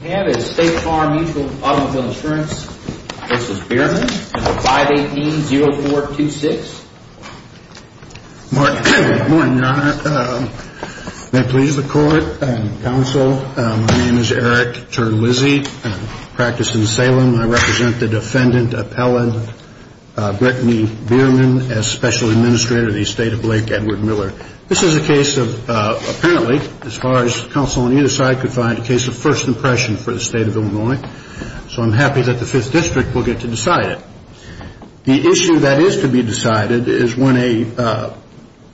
and the 518-0426. Good morning, your honor. May it please the court and counsel, my name is Eric Terlizzi. I practice in Salem. I represent the defendant appellant Brittany Bierman as special administrator of the estate of Blake Edward Miller. This is a case of, apparently, as far as counsel on either side could find, a case of first impression for the state of Illinois. So I'm happy that the 5th district will get to decide it. The issue that is to be decided is when a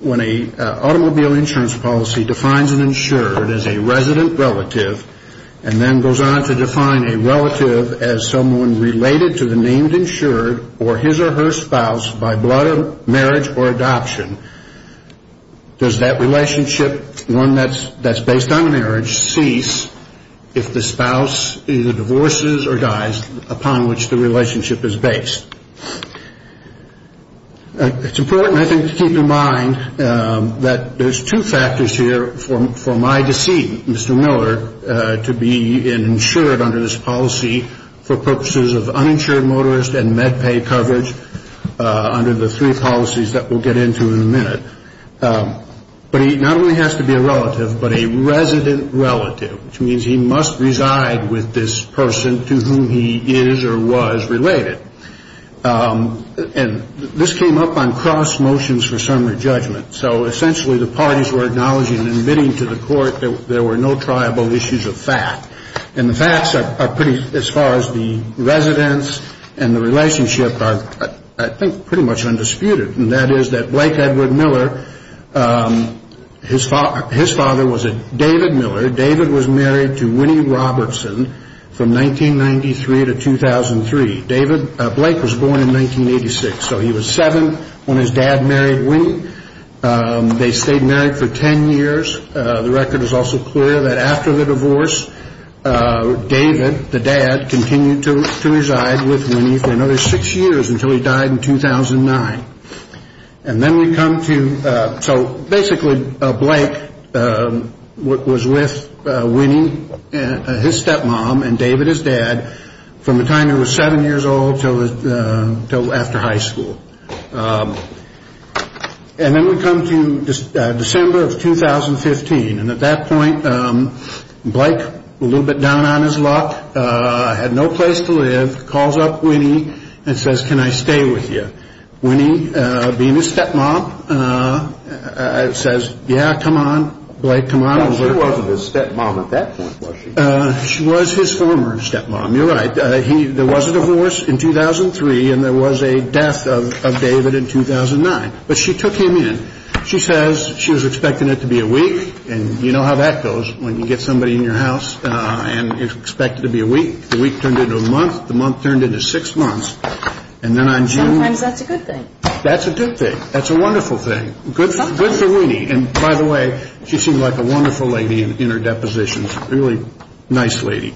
automobile insurance policy defines an insured as a resident relative and then goes on to define a relative as someone related to the named insured or his or her spouse that's based on marriage cease if the spouse either divorces or dies upon which the relationship is based. It's important, I think, to keep in mind that there's two factors here for my deceit, Mr. Miller, to be an insured under this policy for purposes of uninsured motorist and med pay coverage under the three policies that we'll get into in a minute. But he not only has to be a relative but a resident relative, which means he must reside with this person to whom he is or was related. And this came up on cross motions for summary judgment. So essentially the parties were acknowledging and admitting to the court that there were no triable issues of fact. And the facts are pretty, as far as the residents and the relationship, are, I think, pretty much undisputed. And that is that Blake Edward Miller, his father was a David Miller. David was married to Winnie Robertson from 1993 to 2003. David, Blake, was born in 1986. So he was seven when his dad married Winnie. They stayed married for ten years. The record is also clear that after the divorce, David, the dad, continued to reside with Winnie for another six years until he died in 2009. And then we come to, so basically Blake was with Winnie, his stepmom, and David, his dad, from the time he was seven years old until after high school. And then we come to December of 2015. And at that point, Blake, a little bit down on his luck, had no place to live, calls up Winnie and says, can I stay with you? Winnie, being his stepmom, says, yeah, come on, Blake, come on. But she wasn't his stepmom at that point, was she? She was his former stepmom. You're right. There was a divorce in 2003 and there was a death of David in 2009. But she took him in. She says she was expecting it to be a week. And you know how that goes when you get somebody in your house and you expect it to be a week? The week turned into a month. The month turned into six months. And then on June... Sometimes that's a good thing. That's a good thing. That's a wonderful thing. Good for Winnie. And by the way, she seemed like a wonderful lady in her depositions. Really nice lady.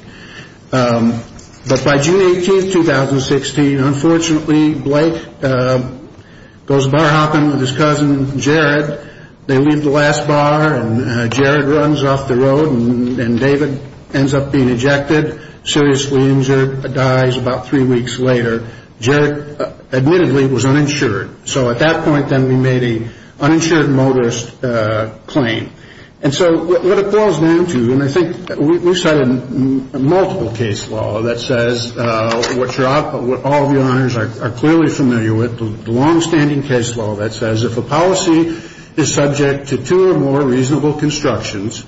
But by June 18, 2016, unfortunately, Blake goes bar hopping with his cousin, Jared. They leave the last bar and Jared runs off the road and David ends up being ejected, seriously injured, dies about three weeks later. Jared, admittedly, was uninsured. So at that point, then, we made an uninsured motorist claim. And so what it boils down to, and I think we've cited multiple case law that says what all of your honors are clearly familiar with, the longstanding case law that says if a policy is subject to two or more reasonable constructions,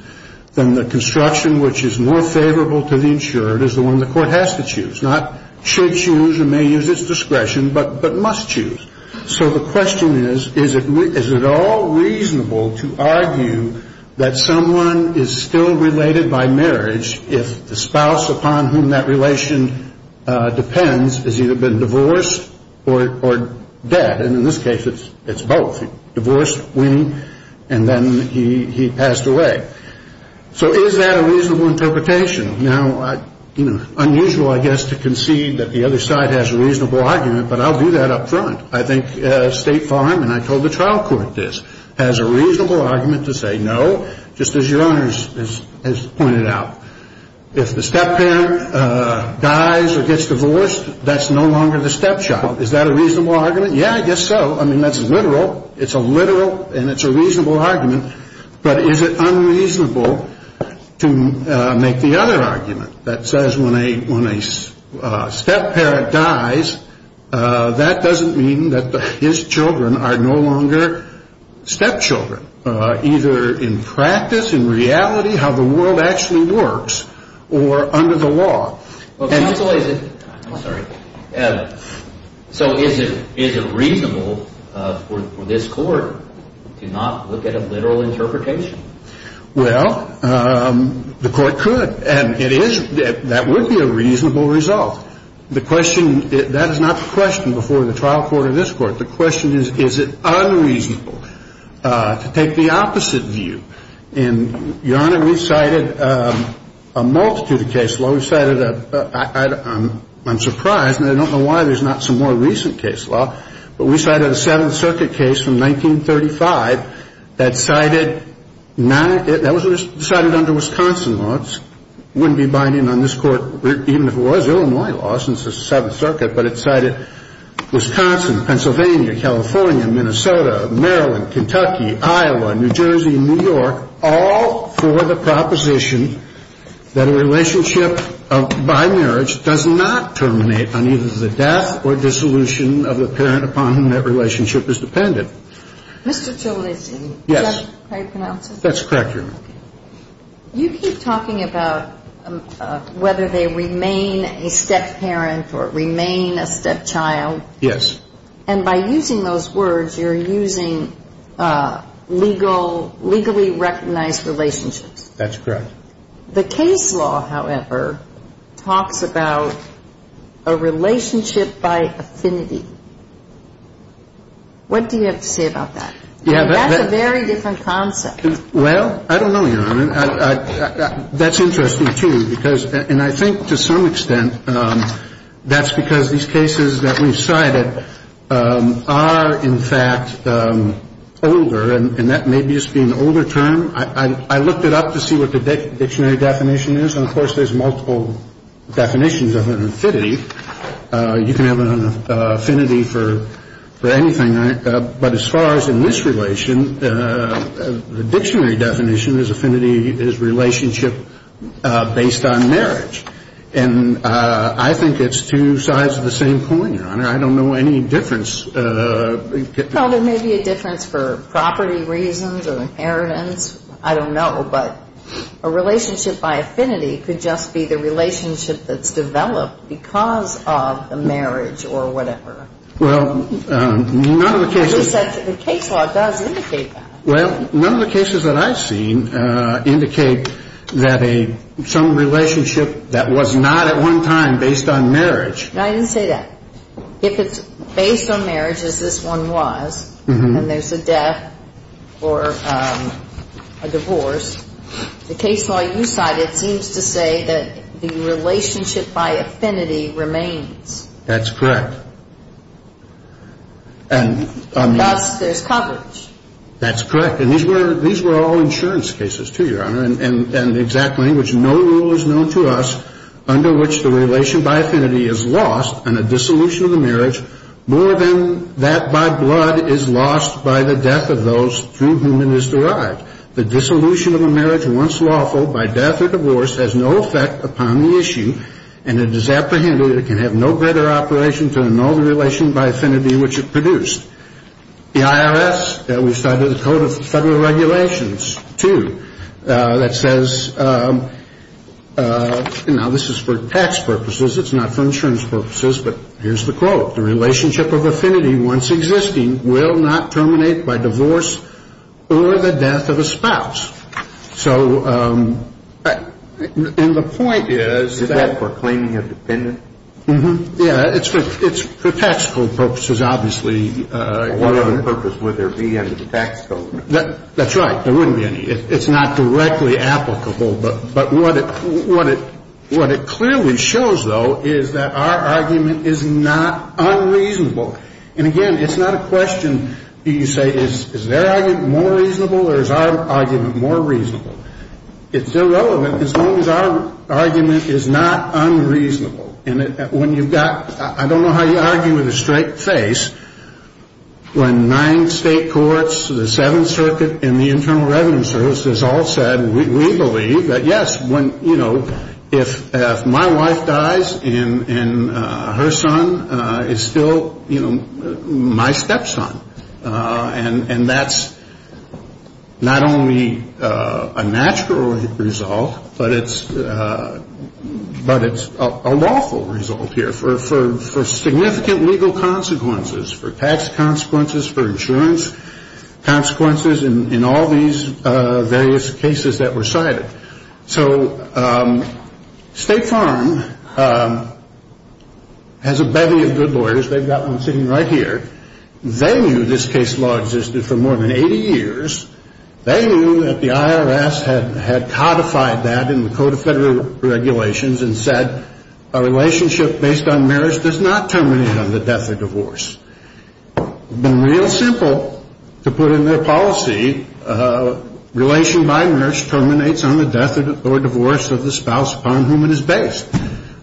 then the construction which is more favorable to the insured is the one the court has to choose, not should choose or may use its discretion, but must choose. So the question is, is it all reasonable to argue that someone is still related by marriage if the spouse upon whom that relation depends has either been divorced or dead? And in this case, it's both. Divorced, winning, and then he passed away. So is that a reasonable interpretation? Now, unusual, I guess, to concede that the other side has a reasonable argument, but I'll do that up front. I think State Farm, and I told the trial court this, has a reasonable argument to say no, just as your honors has pointed out. If the step-parent dies or gets divorced, that's no longer the stepchild. Is that a reasonable argument? I mean, that's literal. It's a literal and it's a reasonable argument. But is it unreasonable to make the other argument that says when a step-parent dies, that doesn't mean that his children are no longer stepchildren, either in practice, in reality, how the world actually works, or under the law. Well, counsel, is it – I'm sorry. So is it reasonable for this court to not look at a literal interpretation? Well, the court could. And it is – that would be a reasonable result. The question – that is not the question before the trial court or this court. The question is, is it unreasonable to take the opposite view? And your honor, we cited a multitude of cases. We cited a – I'm surprised, and I don't know why there's not some more recent case law, but we cited a Seventh Circuit case from 1935 that cited – that was cited under Wisconsin law. It wouldn't be binding on this court, even if it was Illinois law, since it's the Seventh Circuit, but it cited Wisconsin, Pennsylvania, California, Minnesota, Maryland, Kentucky, Iowa, New Jersey, and New York, all for the proposition that a relationship of – by marriage does not terminate on either the death or dissolution of the parent upon whom that relationship is dependent. Mr. Jolici. Yes. Is that how you pronounce it? That's correct, Your Honor. You keep talking about whether they remain a step-parent or remain a step-child. Yes. And by using those words, you're using legal – legally recognized relationships. That's correct. The case law, however, talks about a relationship by affinity. What do you have to say about that? Yeah, but – I mean, that's a very different concept. Well, I don't know, Your Honor. That's interesting too, because – and I think to some extent that's because these cases that we've cited are, in fact, older, and that may just be an older term. I looked it up to see what the dictionary definition is, and of course, there's multiple definitions of an affinity. You can have an affinity for anything, but as far as in this relation, the dictionary definition is affinity is a relationship based on marriage. And I think it's two sides of the same coin, Your Honor. I don't know any difference – Well, there may be a difference for property reasons or inheritance. I don't know. But a relationship by affinity could just be the relationship that's developed because of the marriage or whatever. Well, none of the cases – The case law does indicate that. Well, none of the cases that I've seen indicate that a – some relationship that was not at one time based on marriage – I didn't say that. If it's based on marriage, as this one was, and there's a death or a divorce, the case law you cited seems to say that the relationship by affinity remains. That's correct. And – Thus, there's coverage. That's correct. And these were – these were all insurance cases, too, Your Honor. And the exact language, no rule is known to us under which the relation by affinity is lost on a dissolution of the marriage more than that by blood is lost by the death of those to whom it is derived. The dissolution of a marriage once lawful by death or divorce has no effect upon the issue, and it is apprehended that it can have no better operation to annul the relation by affinity which it produced. The IRS – we cited a Code of Federal Regulations, too, that says – now, this is for tax purposes. It's not for insurance purposes. But here's the quote. The relationship of affinity once existing will not terminate by divorce or the death of a spouse. So – and the point is – Is that for claiming a dependent? Mm-hmm. Yeah, it's for – it's for tax code purposes, obviously. What other purpose would there be under the tax code? That's right. There wouldn't be any. It's not directly applicable. But what it – what it – what it clearly shows, though, is that our argument is not unreasonable. And again, it's not a question – you say, is their argument more reasonable or is our argument more reasonable? It's irrelevant as long as our argument is not unreasonable. And when you've got – I don't know how you argue with a straight face when nine state courts, the Seventh Circuit, and the Internal Revenue Service has all said, we believe that, yes, when – you know, if my wife dies and her son is still, you know, my stepson, and that's not only a natural result, but it's – but it's a lawful result here for – for significant legal consequences, for tax consequences, for insurance consequences in all these various cases that were cited. So State Farm has a bevy of good lawyers. They've got one sitting right here. They knew this case law existed for more than 80 years. They knew that the IRS had codified that in the Code of Federal Regulations and said, a relationship based on marriage does not terminate on the death or divorce. It's been real simple to put in their policy, relation by marriage terminates on the death or divorce of the spouse upon whom it is based.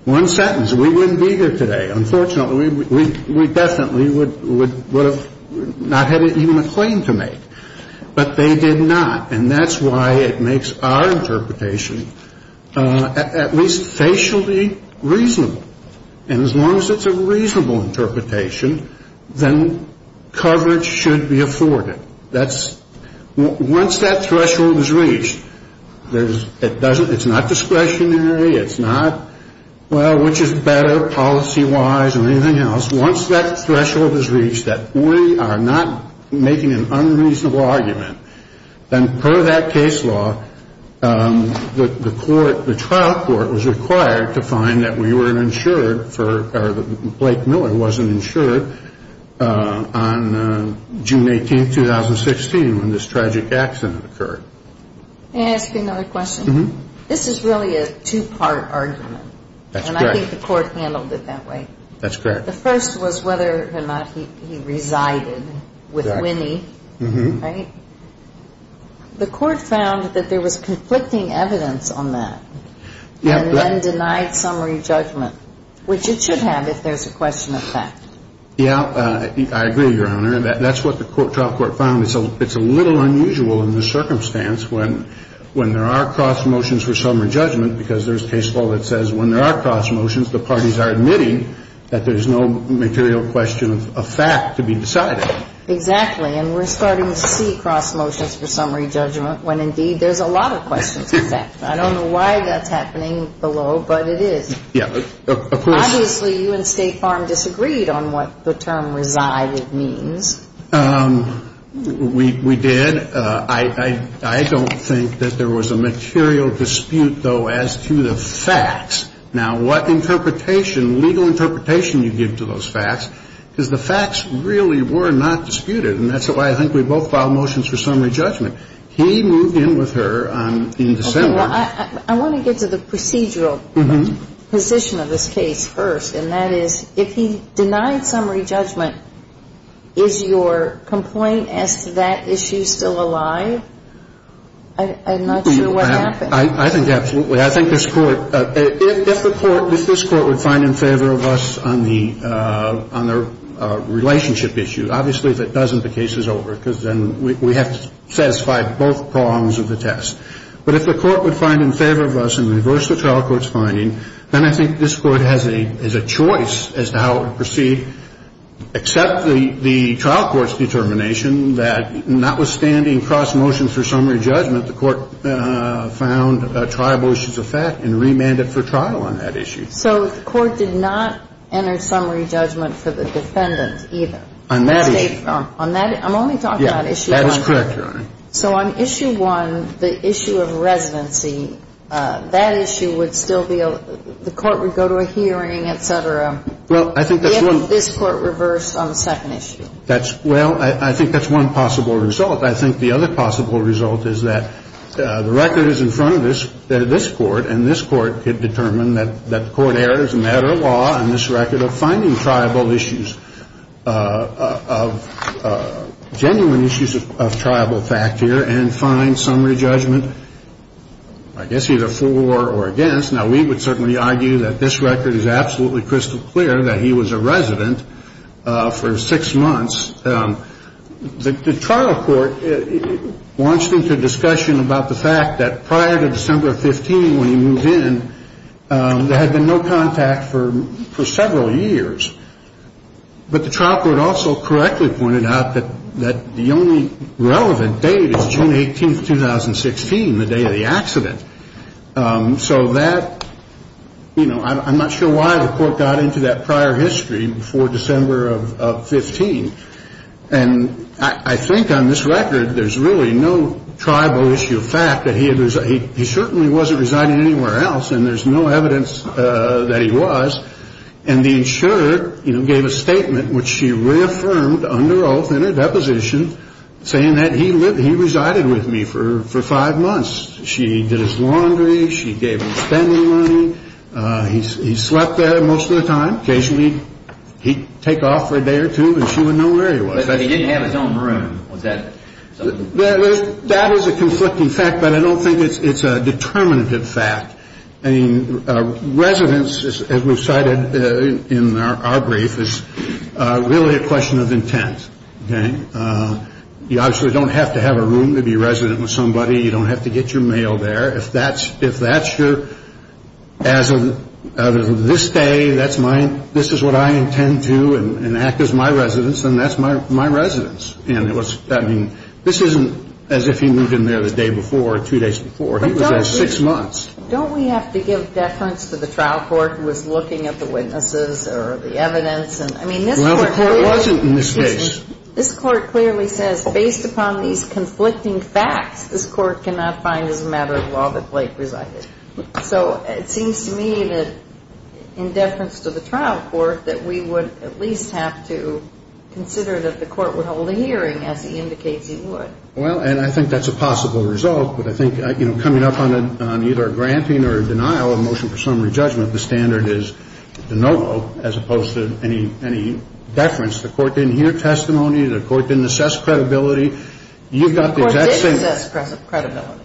One sentence, we wouldn't be here today. Unfortunately, we definitely would have not had even a claim to make. But they did not. And that's why it makes our interpretation at least facially reasonable. And as long as it's a reasonable interpretation, then coverage should be afforded. That's – once that threshold is reached, there's – it doesn't – it's not discretionary. It's not, well, which is better policy-wise or anything else. Once that threshold is reached that we are not making an unreasonable argument, then per that case law, the court – the trial court was required to find that we were insured for – or that Blake Miller wasn't insured on June 18th, 2016, when this tragic accident occurred. May I ask you another question? Mm-hmm. This is really a two-part argument. That's correct. And I think the court handled it that way. That's correct. The first was whether or not he resided with Winnie. Mm-hmm. Right? The court found that there was conflicting evidence on that. Yeah, but – And then denied summary judgment, which it should have if there's a question of fact. Yeah, I agree, Your Honor. That's what the trial court found. It's a little unusual in the circumstance when there are cross motions for summary judgment because there's a case law that says when there are cross motions, the parties are admitting that there's no material question of fact to be decided. Exactly. And we're starting to see cross motions for summary judgment when, indeed, there's a lot of questions of fact. I don't know why that's happening below, but it is. Yeah. Obviously, you and State Farm disagreed on what the term resided means. We did. I don't think that there was a material dispute, though, as to the facts. Now, what legal interpretation you give to those facts is the facts really were not disputed, and that's why I think we both filed motions for summary judgment. He moved in with her in December. Okay, well, I want to get to the procedural position of this case first, and that is if he denied summary judgment, is your complaint as to that issue still alive? I'm not sure what happened. I think absolutely. I think this Court, if the Court, if this Court would find in favor of us on the relationship issue, obviously, if it doesn't, the case is over because then we have to satisfy both prongs of the test. But if the Court would find in favor of us and reverse the trial court's finding, then I think this Court has a choice as to how it would proceed except the trial court's determination that notwithstanding cross motions for summary judgment, the Court found triable issues of fact and remanded for trial on that issue. So the Court did not enter summary judgment for the defendant either? On that issue. I'm only talking about issue one. That is correct, Your Honor. So on issue one, the issue of residency, that issue would still be, the Court would go to a hearing, et cetera, given this Court reversed on the second issue? Well, I think that's one possible result. I think the other possible result is that the record is in front of this Court and this Court could determine that the Court errs in that or law on this record of finding triable issues, of genuine issues of triable fact here and find summary judgment, I guess, either for or against. Now, we would certainly argue that this record is absolutely crystal clear that he was a resident for six months. The trial court launched into discussion about the fact that prior to December 15, when he moved in, there had been no contact for several years. But the trial court also correctly pointed out that the only relevant date is June 18, 2016, the day of the accident. So that, you know, I'm not sure why the Court got into that prior history before December of 15. And I think on this record, there's really no triable issue of fact that he certainly wasn't residing anywhere else and there's no evidence that he was. And the insurer, you know, gave a statement which she reaffirmed under oath in her deposition saying that he resided with me for five months. She did his laundry. She gave him spending money. He slept there most of the time. Occasionally, he'd take off for a day or two and she wouldn't know where he was. But he didn't have his own room. Was that something? That is a conflicting fact, but I don't think it's a determinative fact. I mean, residence, as we've cited in our brief, is really a question of intent, okay? You obviously don't have to have a room to be resident with somebody. You don't have to get your mail there. If that's your, as of this day, this is what I intend to and act as my residence, then that's my residence. I mean, this isn't as if he moved in there the day before or two days before. He was there six months. Don't we have to give deference to the trial court who was looking at the witnesses or the evidence? Well, the court wasn't in this case. This court clearly says, based upon these conflicting facts, this court cannot find as a matter of law that Blake resided. So it seems to me that, in deference to the trial court, that we would at least have to consider that the court would hold a hearing as he indicates he would. Well, and I think that's a possible result, but I think coming up on either a granting or a denial of a motion for summary judgment, the standard is de novo as opposed to any deference. The court didn't hear testimony. The court didn't assess credibility. The court didn't assess credibility.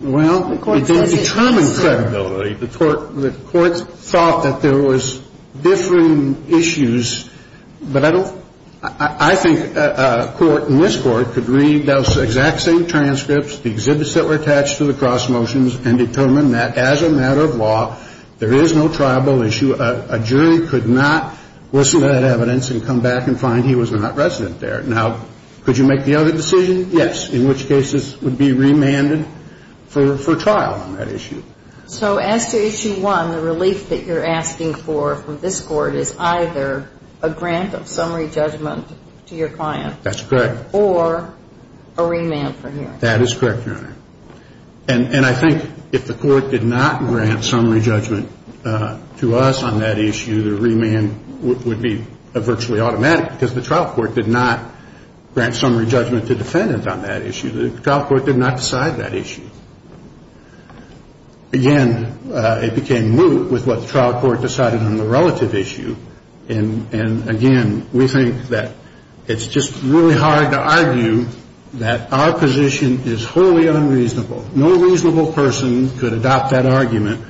Well, it didn't determine credibility. The court thought that there was differing issues, but I think a court in this court could read those exact same transcripts, the exhibits that were attached to the cross motions, and determine that, as a matter of law, there is no triable issue. A jury could not listen to that evidence and come back and find he was not resident there. Now, could you make the other decision? Yes, in which cases would be remanded for trial on that issue. So as to issue one, the relief that you're asking for from this court is either a grant of summary judgment to your client. That's correct. Or a remand for hearing. That is correct, Your Honor. And I think if the court did not grant summary judgment to us on that issue, the remand would be virtually automatic because the trial court did not grant summary judgment to defendant on that issue. The trial court did not decide that issue. Again, it became moot with what the trial court decided on the relative issue. And, again, we think that it's just really hard to argue that our position is wholly unreasonable. No reasonable person could adopt that argument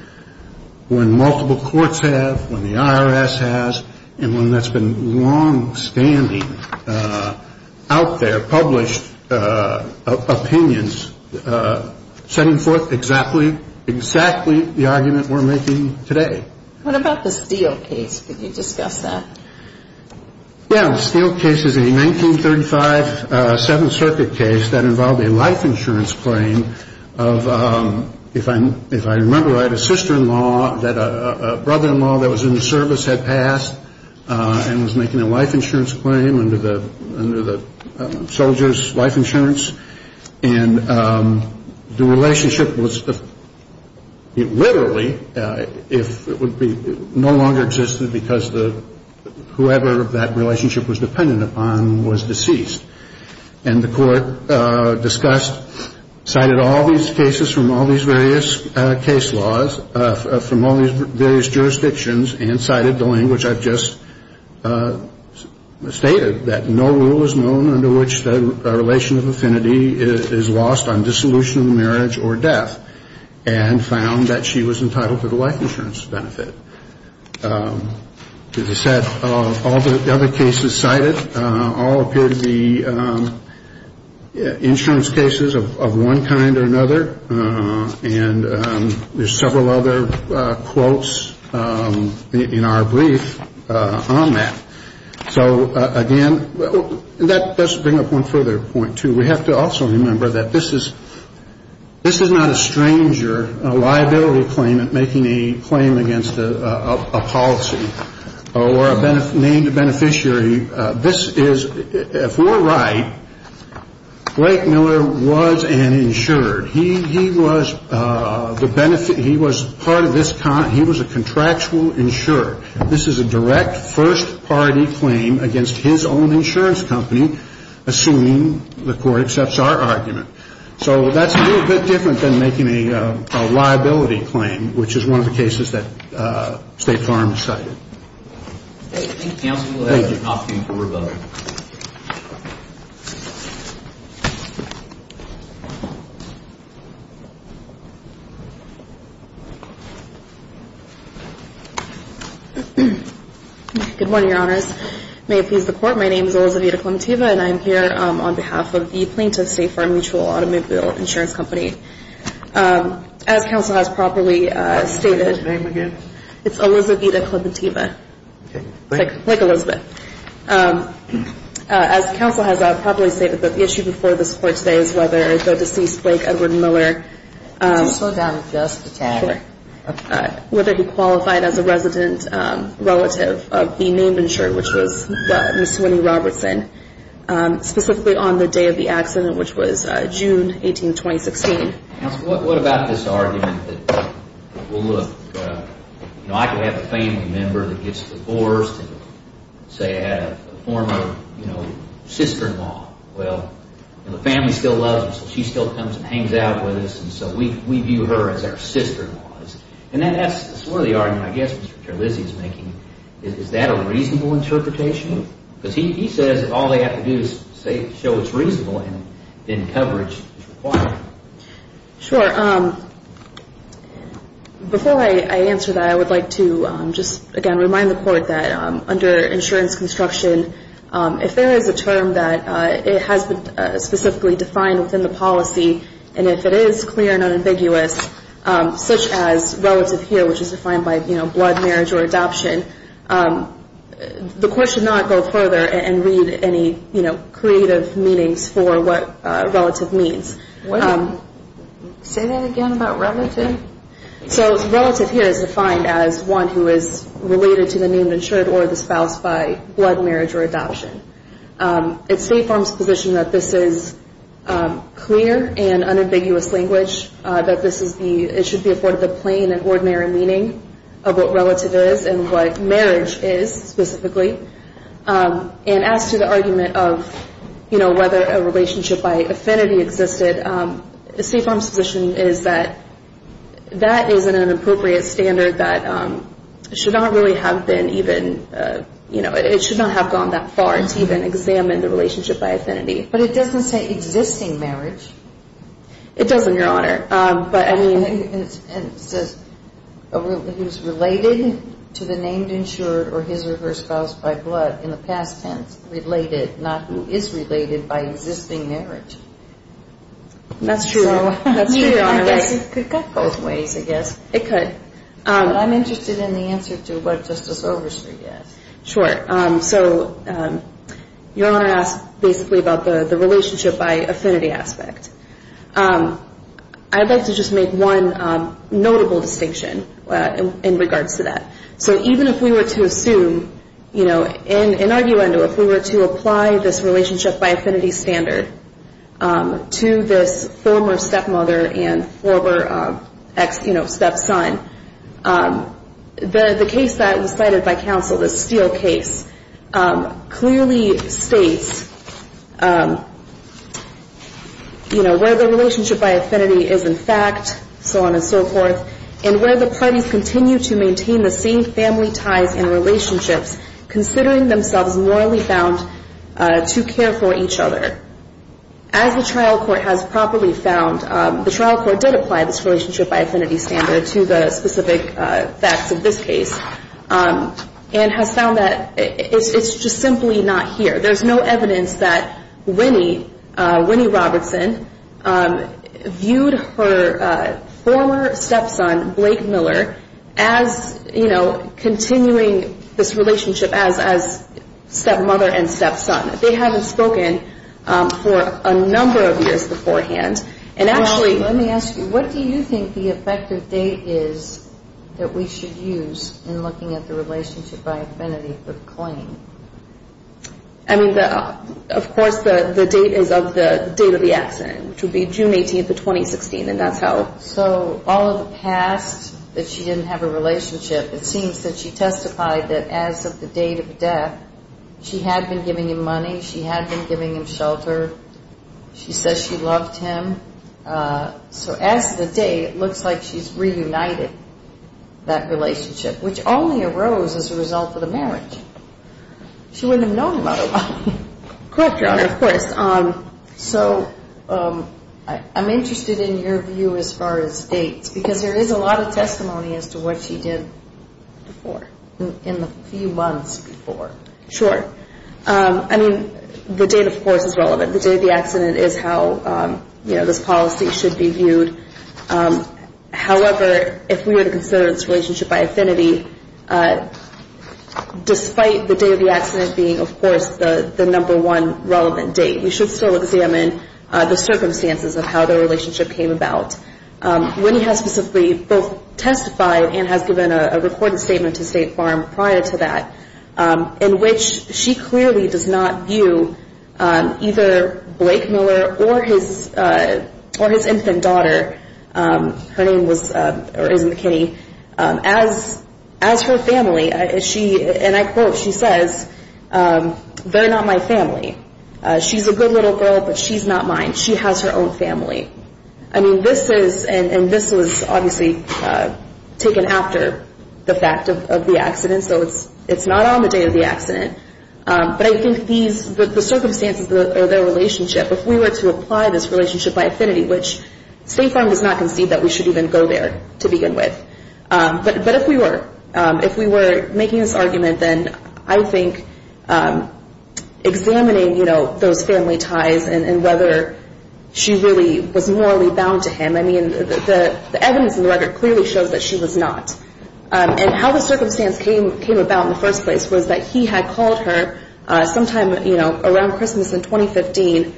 when multiple courts have, when the IRS has, and when that's been long-standing out there, published opinions setting forth exactly the argument we're making today. What about the Steele case? Could you discuss that? Yeah, the Steele case is a 1935 Seventh Circuit case that involved a life insurance claim of, if I remember right, a sister-in-law that a brother-in-law that was in the service had passed and was making a life insurance claim under the soldier's life insurance. And the relationship was literally, if it would be, no longer existed because whoever that relationship was dependent upon was deceased. And the court discussed, cited all these cases from all these various case laws, from all these various jurisdictions, and cited the language I've just stated, that no rule is known under which the relation of affinity is lost on dissolution of marriage or death, and found that she was entitled to the life insurance benefit. As I said, all the other cases cited all appear to be insurance cases of one kind or another. And there's several other quotes in our brief on that. So, again, that does bring up one further point, too. We have to also remember that this is not a stranger, a liability claimant making a claim against a policy or a named beneficiary. This is, if we're right, Greg Miller was an insured. He was part of this, he was a contractual insured. This is a direct first-party claim against his own insurance company, assuming the court accepts our argument. So that's a little bit different than making a liability claim, which is one of the cases that State Farm cited. Thank you. Good morning, Your Honors. May it please the Court, my name is Elizabeth Clementeva and I'm here on behalf of the plaintiff, State Farm Mutual Automobile Insurance Company. As counsel has properly stated, What's his name again? It's Elizabeth Clementeva. Okay. Like Elizabeth. As counsel has properly stated, the issue before this Court today is whether the deceased Blake Edward Miller Did you slow down just a tad? Sure. Whether he qualified as a resident relative of the named insured, which was Ms. Winnie Robertson, specifically on the day of the accident, which was June 18, 2016. Counsel, what about this argument that, well, look, you know, I could have a family member that gets divorced and say I had a former, you know, sister-in-law. Well, you know, the family still loves her, so she still comes and hangs out with us and so we view her as our sister-in-law. And that's sort of the argument I guess Mr. Terlizzi is making. Is that a reasonable interpretation? Because he says that all they have to do is show it's reasonable and then coverage is required. Sure. Before I answer that, I would like to just, again, remind the Court that under insurance construction, if there is a term that it has been specifically defined within the policy and if it is clear and unambiguous, such as relative here, which is defined by, you know, blood, marriage, or adoption, the Court should not go further and read any, you know, creative meanings for what relative means. What? Say that again about relative? So relative here is defined as one who is related to the name of insured or the spouse by blood, marriage, or adoption. It's State Farm's position that this is clear and unambiguous language, that this is the, it should be afforded the plain and ordinary meaning and what marriage is specifically. And as to the argument of, you know, whether a relationship by affinity existed, State Farm's position is that that is an inappropriate standard that should not really have been even, you know, it should not have gone that far to even examine the relationship by affinity. But it doesn't say existing marriage. It doesn't, Your Honor. But I mean... And it says, who's related to the named insured or his or her spouse by blood in the past tense, related, not who is related by existing marriage. That's true. That's true, Your Honor. I guess it could cut both ways, I guess. It could. But I'm interested in the answer to what Justice Overstreet asked. Sure. So, Your Honor asked basically about the relationship by affinity aspect. I'd like to just make one notable distinction in regards to that. So even if we were to assume, you know, in arguendo, if we were to apply this relationship by affinity standard to this former stepmother and former ex, you know, stepson, the case that was cited by counsel, the Steele case, clearly states, you know, where the relationship by affinity is in fact, so on and so forth, and where the parties continue to maintain the same family ties and relationships considering themselves morally found to care for each other. As the trial court has properly found, the trial court did apply this relationship by affinity standard to the specific facts of this case and has found that it's just simply not here. There's no evidence that Winnie, Winnie Robertson, viewed her former stepson, Blake Miller, as, you know, continuing this relationship as, as stepmother and stepson. They haven't spoken for a number of years beforehand and actually... Well, let me ask you, what do you think the effective date is that we should use in looking at the relationship by affinity for the claim? I mean, the, of course, the date is of the date of the accident, which would be June 18th of 2016 and that's how... So, all of the past that she didn't have a relationship, it seems that she testified that as of the date of death, she had been giving him money, she had been giving him shelter, she says she loved him. So, as of the date, it looks like she's reunited that relationship, which only arose as a result of the marriage. She wouldn't have known about it by then. Correct, Your Honor, of course. So, I'm interested in your view as far as dates because there is a lot of testimony as to what she did before, in the few months before. Sure. I mean, the date, of course, is relevant. The day of the accident is how, you know, this policy should be viewed. However, if we were to consider this relationship by affinity, despite the day of the accident being, of course, the number one relevant date, we should still examine the circumstances of how the relationship came about. Winnie has specifically both testified and has given a recorded statement to State Farm prior to that, in which she clearly does not view either Blake Miller or his infant daughter, her name was as her family. She, and I quote, she says, they're not my family. She's a good little girl, but she's not my family. She's not mine. She has her own family. I mean, this is, and this was obviously taken after the fact of the accident, so it's not on the day of the accident, but I think these, the circumstances of their relationship, if we were to apply this relationship by affinity, which State Farm does not concede that we should even go there to begin with, but if we were, if we were making this argument, then I think examining those family ties and whether she really was morally bound to him, I mean, the evidence in the record clearly shows that she was not. And how the circumstance came about in the first place was that he had called her sometime around Christmas in 2015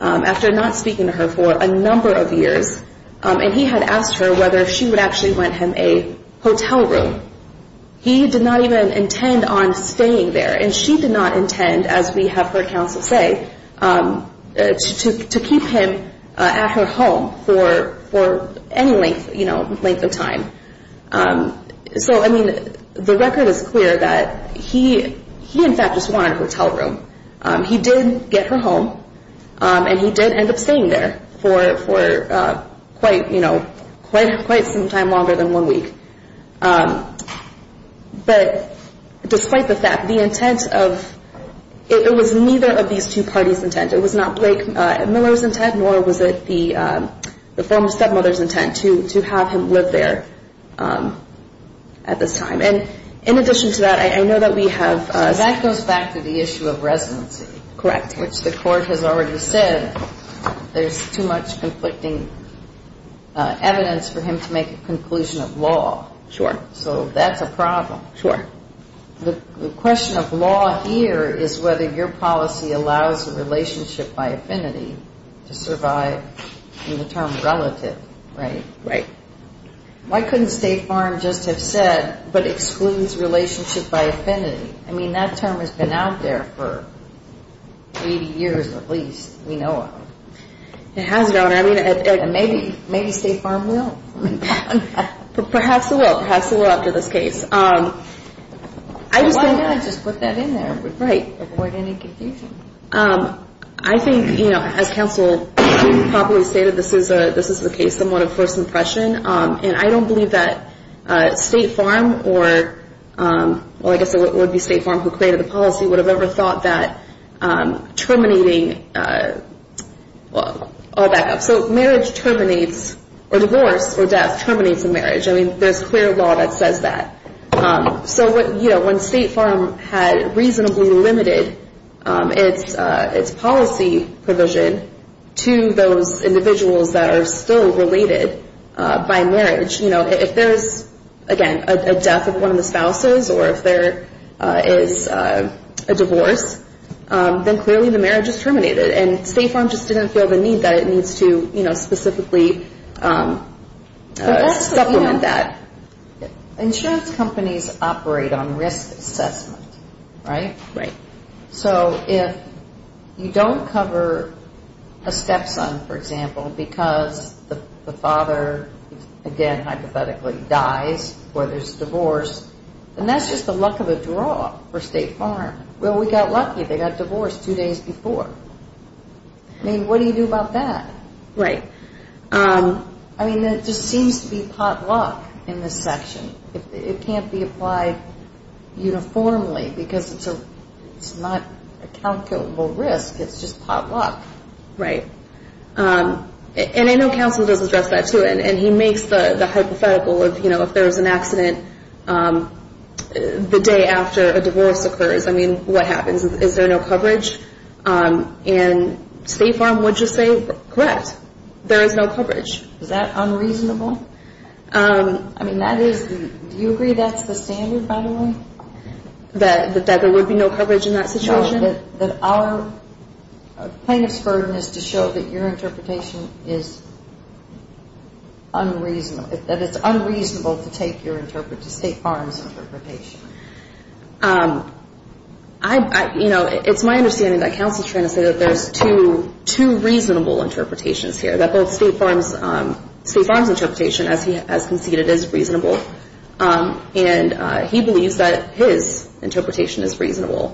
after not speaking to her for a number of years, and he had asked her whether she would actually rent him a hotel room. He did not even intend on staying there and she did not intend, as we have heard counsel say, to keep him at her home for any length, you know, length of time. So, I mean, the record is clear that he, he in fact just wanted a hotel room. He did get her home and he did end up staying there for quite, you know, quite some time longer than one week. But despite the fact, the intent of, it was neither of these two parties' intent. It was not Blake Miller's intent, nor was it the former stepmother's intent to have him live there at this time. And in addition to that, I know that we have a... I mean, we have been collecting evidence for him to make a conclusion of law. Sure. So that's a problem. Sure. The question of law here is whether your policy allows a by affinity to survive in the term relative, right? Right. Why couldn't State Farm just have said but excludes relationship by affinity? I mean, that term has been out there for 80 years at least. We know of it. It has been out there. Maybe State Farm will. Perhaps it will. Perhaps it will after this case. Why not just put that in there? Right. Avoid any confusion. I think as counsel probably stated this is the case somewhat of first impression and I don't believe that State Farm or well I guess it would be State Farm who created the policy would have ever thought that terminating marriage terminates or divorce or death terminates a marriage. I mean, there's clear law that says that. So when State Farm had reasonably limited its policy provision to those individuals that are still related by marriage if there's again a death of one of the spouses or if there is a divorce then clearly the marriage is terminated and State Farm just didn't feel the need that it needs to specifically supplement that. Insurance companies operate on risk assessment right? Right. So if you don't cover a stepson for example because the father again hypothetically dies or there's divorce then that's just the luck of a draw for State Farm. Well we got lucky they got divorced two days before. I mean, what do you do about that? Right. I mean it just seems to be potluck in this section. It can't be applied uniformly because it's not a calculable risk it's just potluck. Right. And I know counsel does address that too and he makes the hypothetical if there's an accident the day after a divorce occurs. I mean, what happens? Is there no coverage? And State Farm would just say correct there is no coverage. Is that unreasonable? I mean that is do you agree that's the standard by the way? That there would be no coverage in that situation? No. That our plaintiff's burden is to show that your interpretation is unreasonable that it's unreasonable to take your State Farm's interpretation? Um I you know it's my understanding that counsel is trying to say that there's two reasonable interpretations here. That both State Farm's interpretation as he has conceded is reasonable and he believes that his interpretation is reasonable.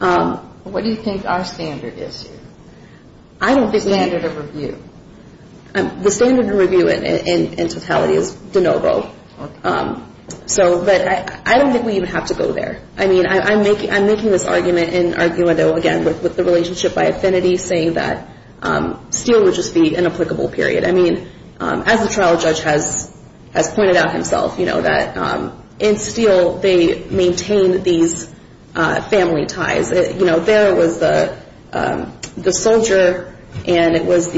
Um What do you think our standard is here? The standard of review. The standard of review in totality is de novo. Um so but I don't think we even have to go there. I mean I'm making this argument again with the relationship by affinity saying that um Steele would just be an example of family ties. You know there was the soldier and it was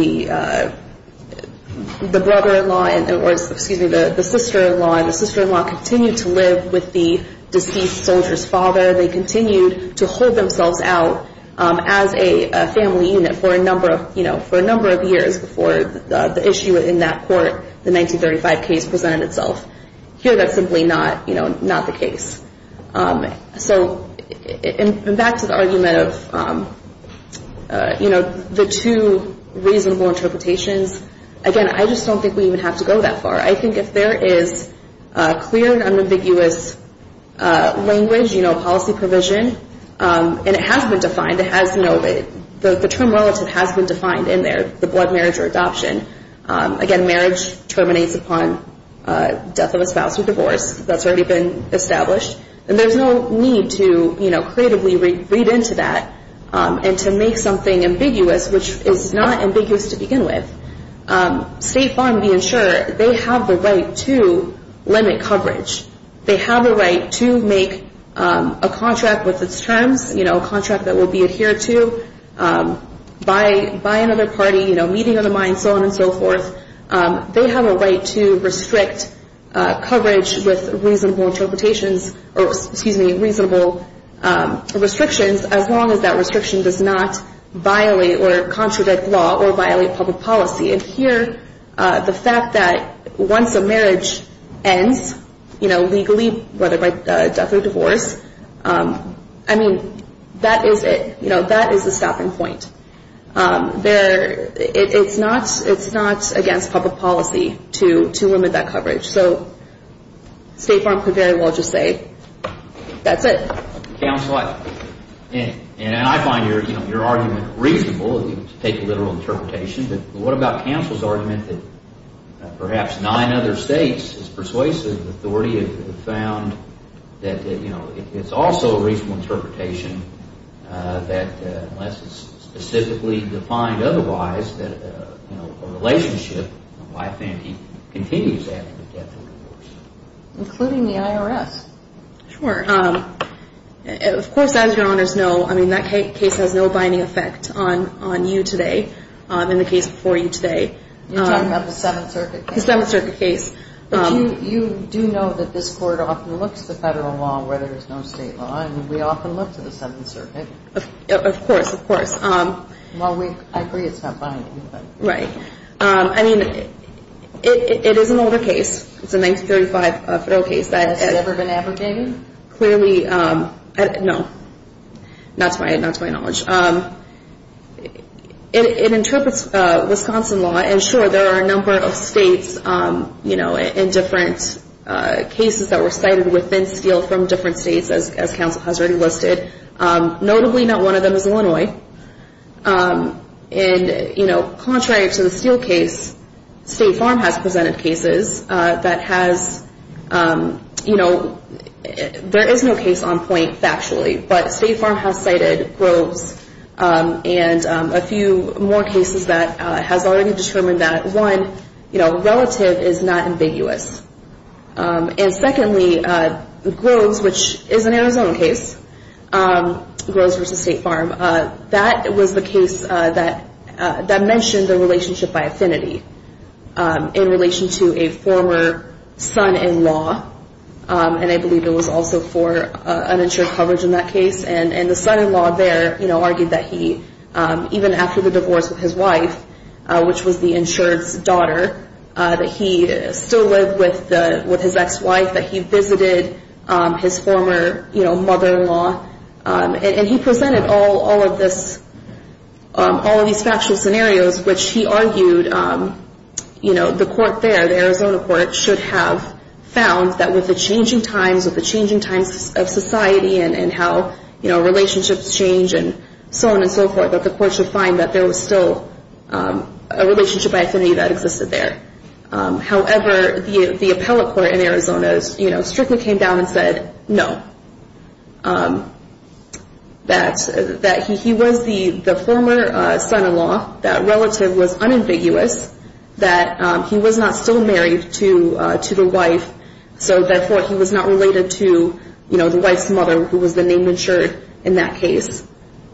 the brother-in-law and it was excuse me the sister-in-law and the sister-in-law continued to live with the deceased soldier's father. They continued to hold themselves out as a family unit for a number of years before the issue in that court the 1935 case presented itself. Here that's simply not you know not the case. So back to the argument of you know the two reasonable interpretations again I just don't think we even have to go that far. I think if there is a clear and ambiguous language you know policy provision and it has been defined the term relative has been defined in there the blood marriage or adoption again marriage terminates upon death of a spouse or divorce that's already been established and there's no need to creatively read into that and to make something ambiguous which is not ambiguous to begin with. State Farm being sure they have the right to limit coverage. They have the right to make a contract with its terms a contract that will be adhered to by another party meeting of the mind so on and so forth they have a right to restrict coverage with reasonable interpretations excuse me reasonable restrictions as long as that restriction does not violate or contradict law or violate public policy and here the fact that once a marriage ends you know legally whether by death or divorce I mean that is it that is the stopping point there it's not it's not against public policy to limit that coverage so State Farm could very well just say that's it counsel I and I find your argument reasonable to take a literal interpretation but what about counsel's argument that perhaps nine other states as persuasive authority have found that you know it's also a reasonable interpretation that unless it's specifically defined otherwise that you know a relationship on life and continues after death or divorce including the IRS sure of course as your honors know I mean that case has no binding effect on you today in the case before you today you're talking about the 7th circuit case you do know that this court often looks to federal law where there is no state law and we have a 1935 federal case that has never been advocated clearly no not to my knowledge it interprets Wisconsin law and sure there are a number of states you know in different cases that were cited within steel from different states as counsel has already listed notably not one of them is Illinois and you know there is no case on point factually but state farm has cited groves and a few more cases that has already determined that one relative is not ambiguous and secondly groves which is an Arizona case groves versus state farm that was the case that mentioned the relationship by affinity in relation to a former son-in-law and I believe it was also for uninsured coverage in that case and the son-in-law there argued that he even after the divorce with his wife which was the insured daughter that he still lived with his ex-wife that he visited his former mother-in-law and he presented all of these factual scenarios which he argued the court there should have found that with the changing times of society and how relationships change and so on and so forth that there was still a relationship by affinity that existed there however the appellate court in Arizona strictly came down and said no that he was the former son-in-law that relative was unambiguous that he was not still married to the wife so therefore he was not related to the wife's mother who was the name insured in that case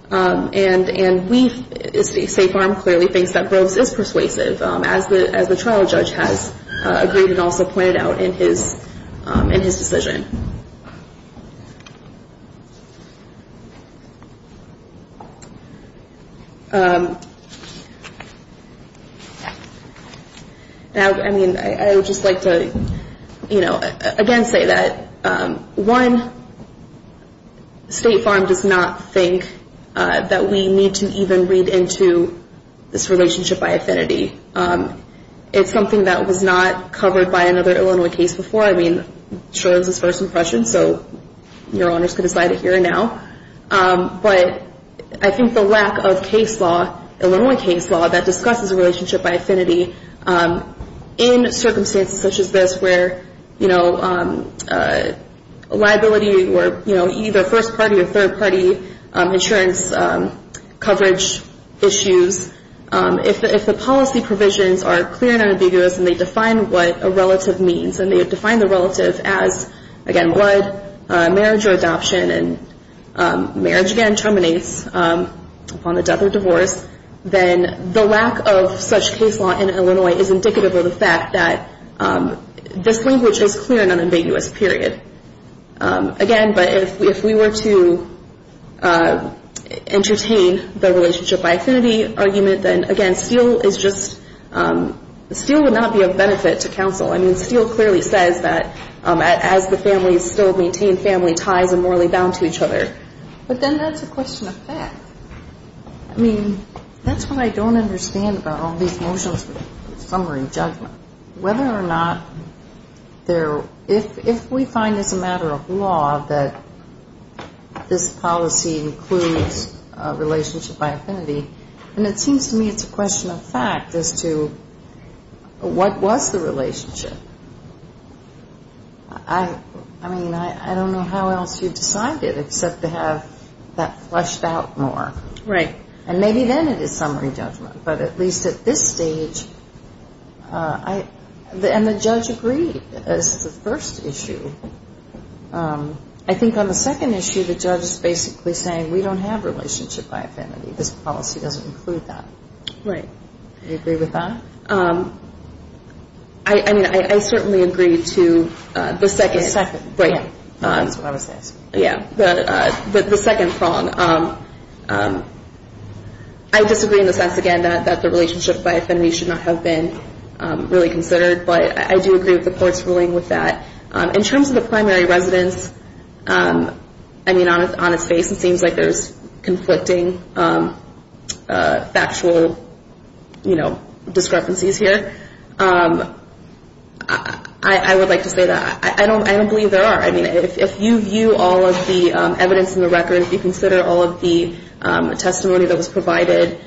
the trial judge has agreed and also pointed out in his decision now I mean I would just like to you know again say that one State Farm does not think that we need to even read into this relationship by affinity it's something that was not covered by another Illinois case before I mean sure it was his first impression so your honors can decide it here and now but I think the lack of case law Illinois case law that discusses a relationship by affinity in circumstances such as this where you know liability or either first party or third party insurance coverage issues if the policy provisions are clear and they define what a relative means and they define the relative as again blood marriage or adoption and marriage again terminates upon the death or divorce then the lack of such case law in Illinois is indicative of the fact that this language is clear and unambiguous period again but if we were to entertain the relationship by affinity argument then again Steele is just Steele would not be of benefit to counsel I mean Steele clearly says that as the families still maintain family ties and morally bound to each other but then that's a question of fact I mean that's what I don't understand about all these motions summary judgment whether or not there if we find as a matter of law that this policy includes relationship by affinity and it seems to me it's a question of fact as to what was the relationship I mean I don't know how else you decided except to have that flushed out more and maybe then it is summary judgment but at least at this stage I and the judge agreed this is the first issue I think on the second issue the judge is basically saying we don't have relationship by affinity this policy doesn't include that right do you agree with that I mean I certainly agree to the second the second prong I disagree in the sense again that the relationship by affinity should not have been considered but I do agree with the court's ruling in terms of the primary residence I mean on its face it seems like there is conflicting factual discrepancies here I would like to say that I don't believe there are I mean if you view all of the evidence in the record if you consider all of the testimony that was provided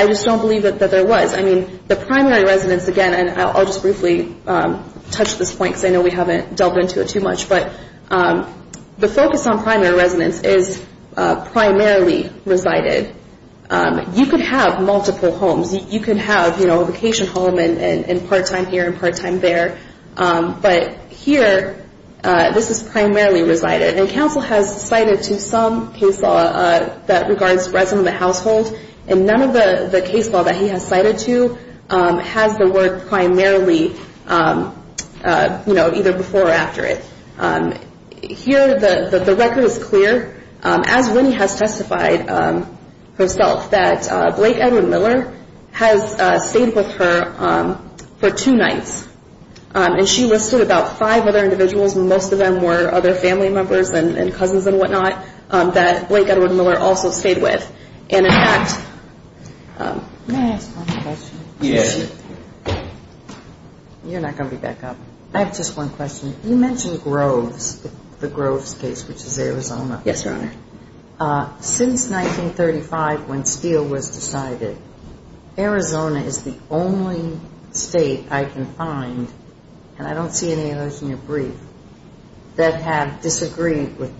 I just don't believe that there was I mean the primary residence again I'll just briefly touch this point because I haven't delved into it too much but the focus on primary residence is primarily resided you can have multiple homes you can have a vacation home and part time here and part time there but here this is primarily resided and council has cited to some case law that regards residence in the household and none of the case law that he has cited to has the word primarily either before or after it here the record is clear as Winnie has testified herself that Blake Edward Miller has stayed with her for two nights and she listed about five other individuals most of them were other family members and cousins and what not that Blake Edward Miller also stayed with and in fact may I ask one question yes you're not going to be back up I have just one question you mentioned Groves the Groves case which is Arizona yes your honor since 1935 when Steele was decided Arizona is the only I can find and I don't see any others in your brief that have disagreed with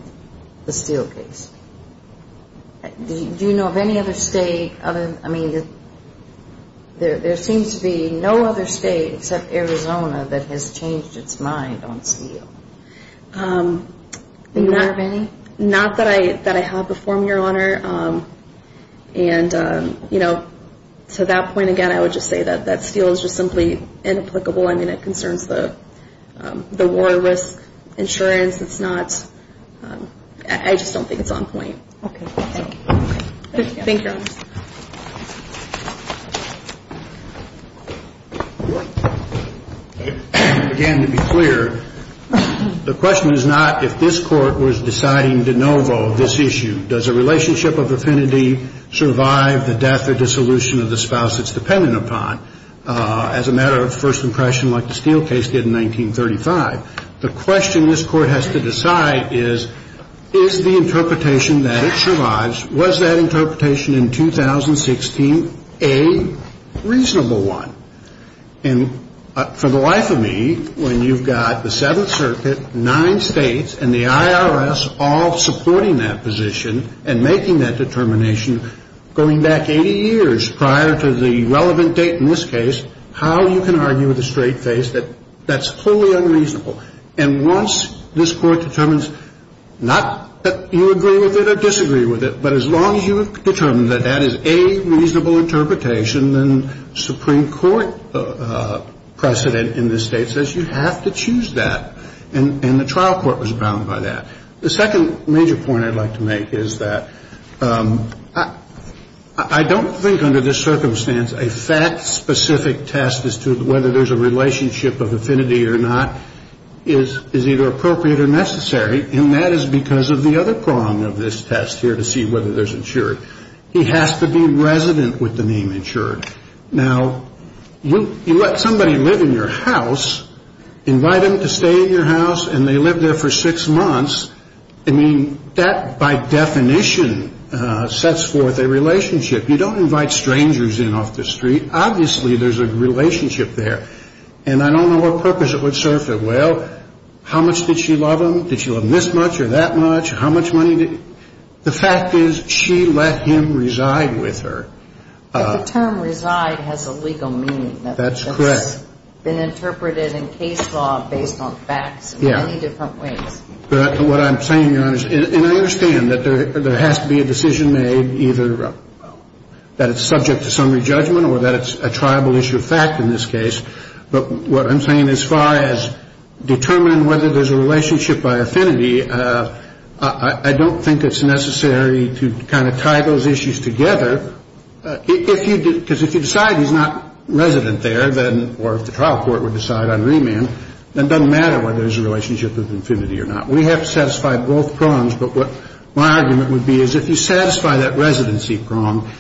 the Steele case do you know of any other state I mean there seems to be no other state except Arizona that has changed its mind on Steele do you know of any not that I have before me your honor and you know to that point again I would just say that Steele is just inapplicable I mean it concerns the war risk insurance it's not I just don't think it's on point okay thank you thank you your honor again to be clear the question is not if this court was deciding de novo this issue does a relationship of affinity survive the death or dissolution of the spouse it's dependent upon as a matter of first impression like the Steele case did in 1935 the question this court has to decide is is the interpretation that it survives was that interpretation in 2016 a reasonable one and for the life of me when you've got the 7th circuit 9 states and the IRS all supporting that position and making that determination going back 80 years prior to the relevant date in this case how you can argue with a straight face that's totally unreasonable and once this court determines not that you agree with it or disagree with it but as long as you have determined that that is a reasonable interpretation then Supreme Court precedent in this state says you have to choose that and the trial court was bound by that the second major point I'd like to make is that I I don't think under this circumstance a fact specific test as to whether there's a relationship of affinity or not is either appropriate or necessary and that is because of the other prong of this test here to see whether there's insured he has to be resident with the name insured now you let somebody live in your house invite them to stay in your house and they live there for six months I mean that by definition sets forth a relationship you don't invite strangers in off the street obviously there's a relationship there and I the term reside has a legal meaning that's correct been interpreted in case law based on facts in many different ways what I'm saying and I understand that there has to be a decision made either that it's subject to summary judgment or that it's a tribal issue of fact in this case but what I'm saying as far as determining whether there's a relationship by affinity I don't think it's necessary to kind of tie those issues together because if you decide he's not resident there or if the trial court would decide on remand it doesn't matter whether there's a relationship with affinity or not we have to satisfy both prongs but what my argument would be is if you satisfy that residency prong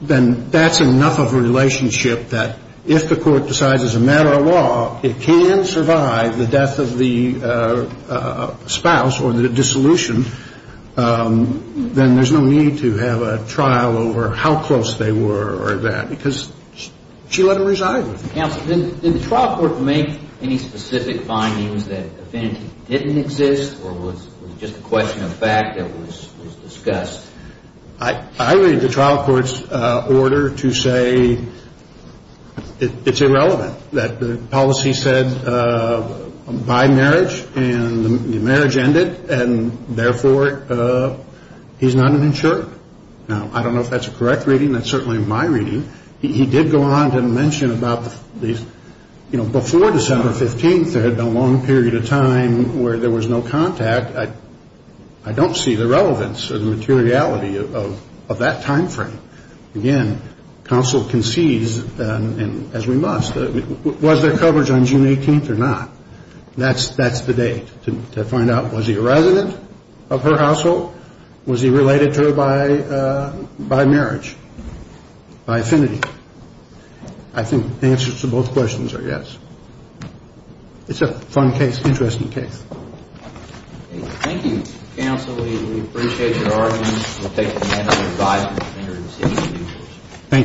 then that's enough of a relationship that if the court decides it's a matter of law it can survive the death of the spouse or the dissolution then there's no need to have a trial over how close they were or that because she let him resign did the trial court make any specific findings that affinity didn't exist or was just a question of fact that was discussed I read the trial court's order to say it's irrelevant that the policy said by marriage and the marriage ended and therefore he's not an insured now I don't know if that's a correct reading that's certainly my reading he did go on to mention about these you know before December 15th there had been a long period of time where there was no contact I don't see the relevance or the materiality of that time frame again counsel concedes as we must was there coverage on June 18th or not that's the date to find out was he a resident of her household was he related to her by marriage by affinity I think the answer to both questions are yes it's a fun case interesting case thank you counsel we appreciate your argument we'll take a minute to revise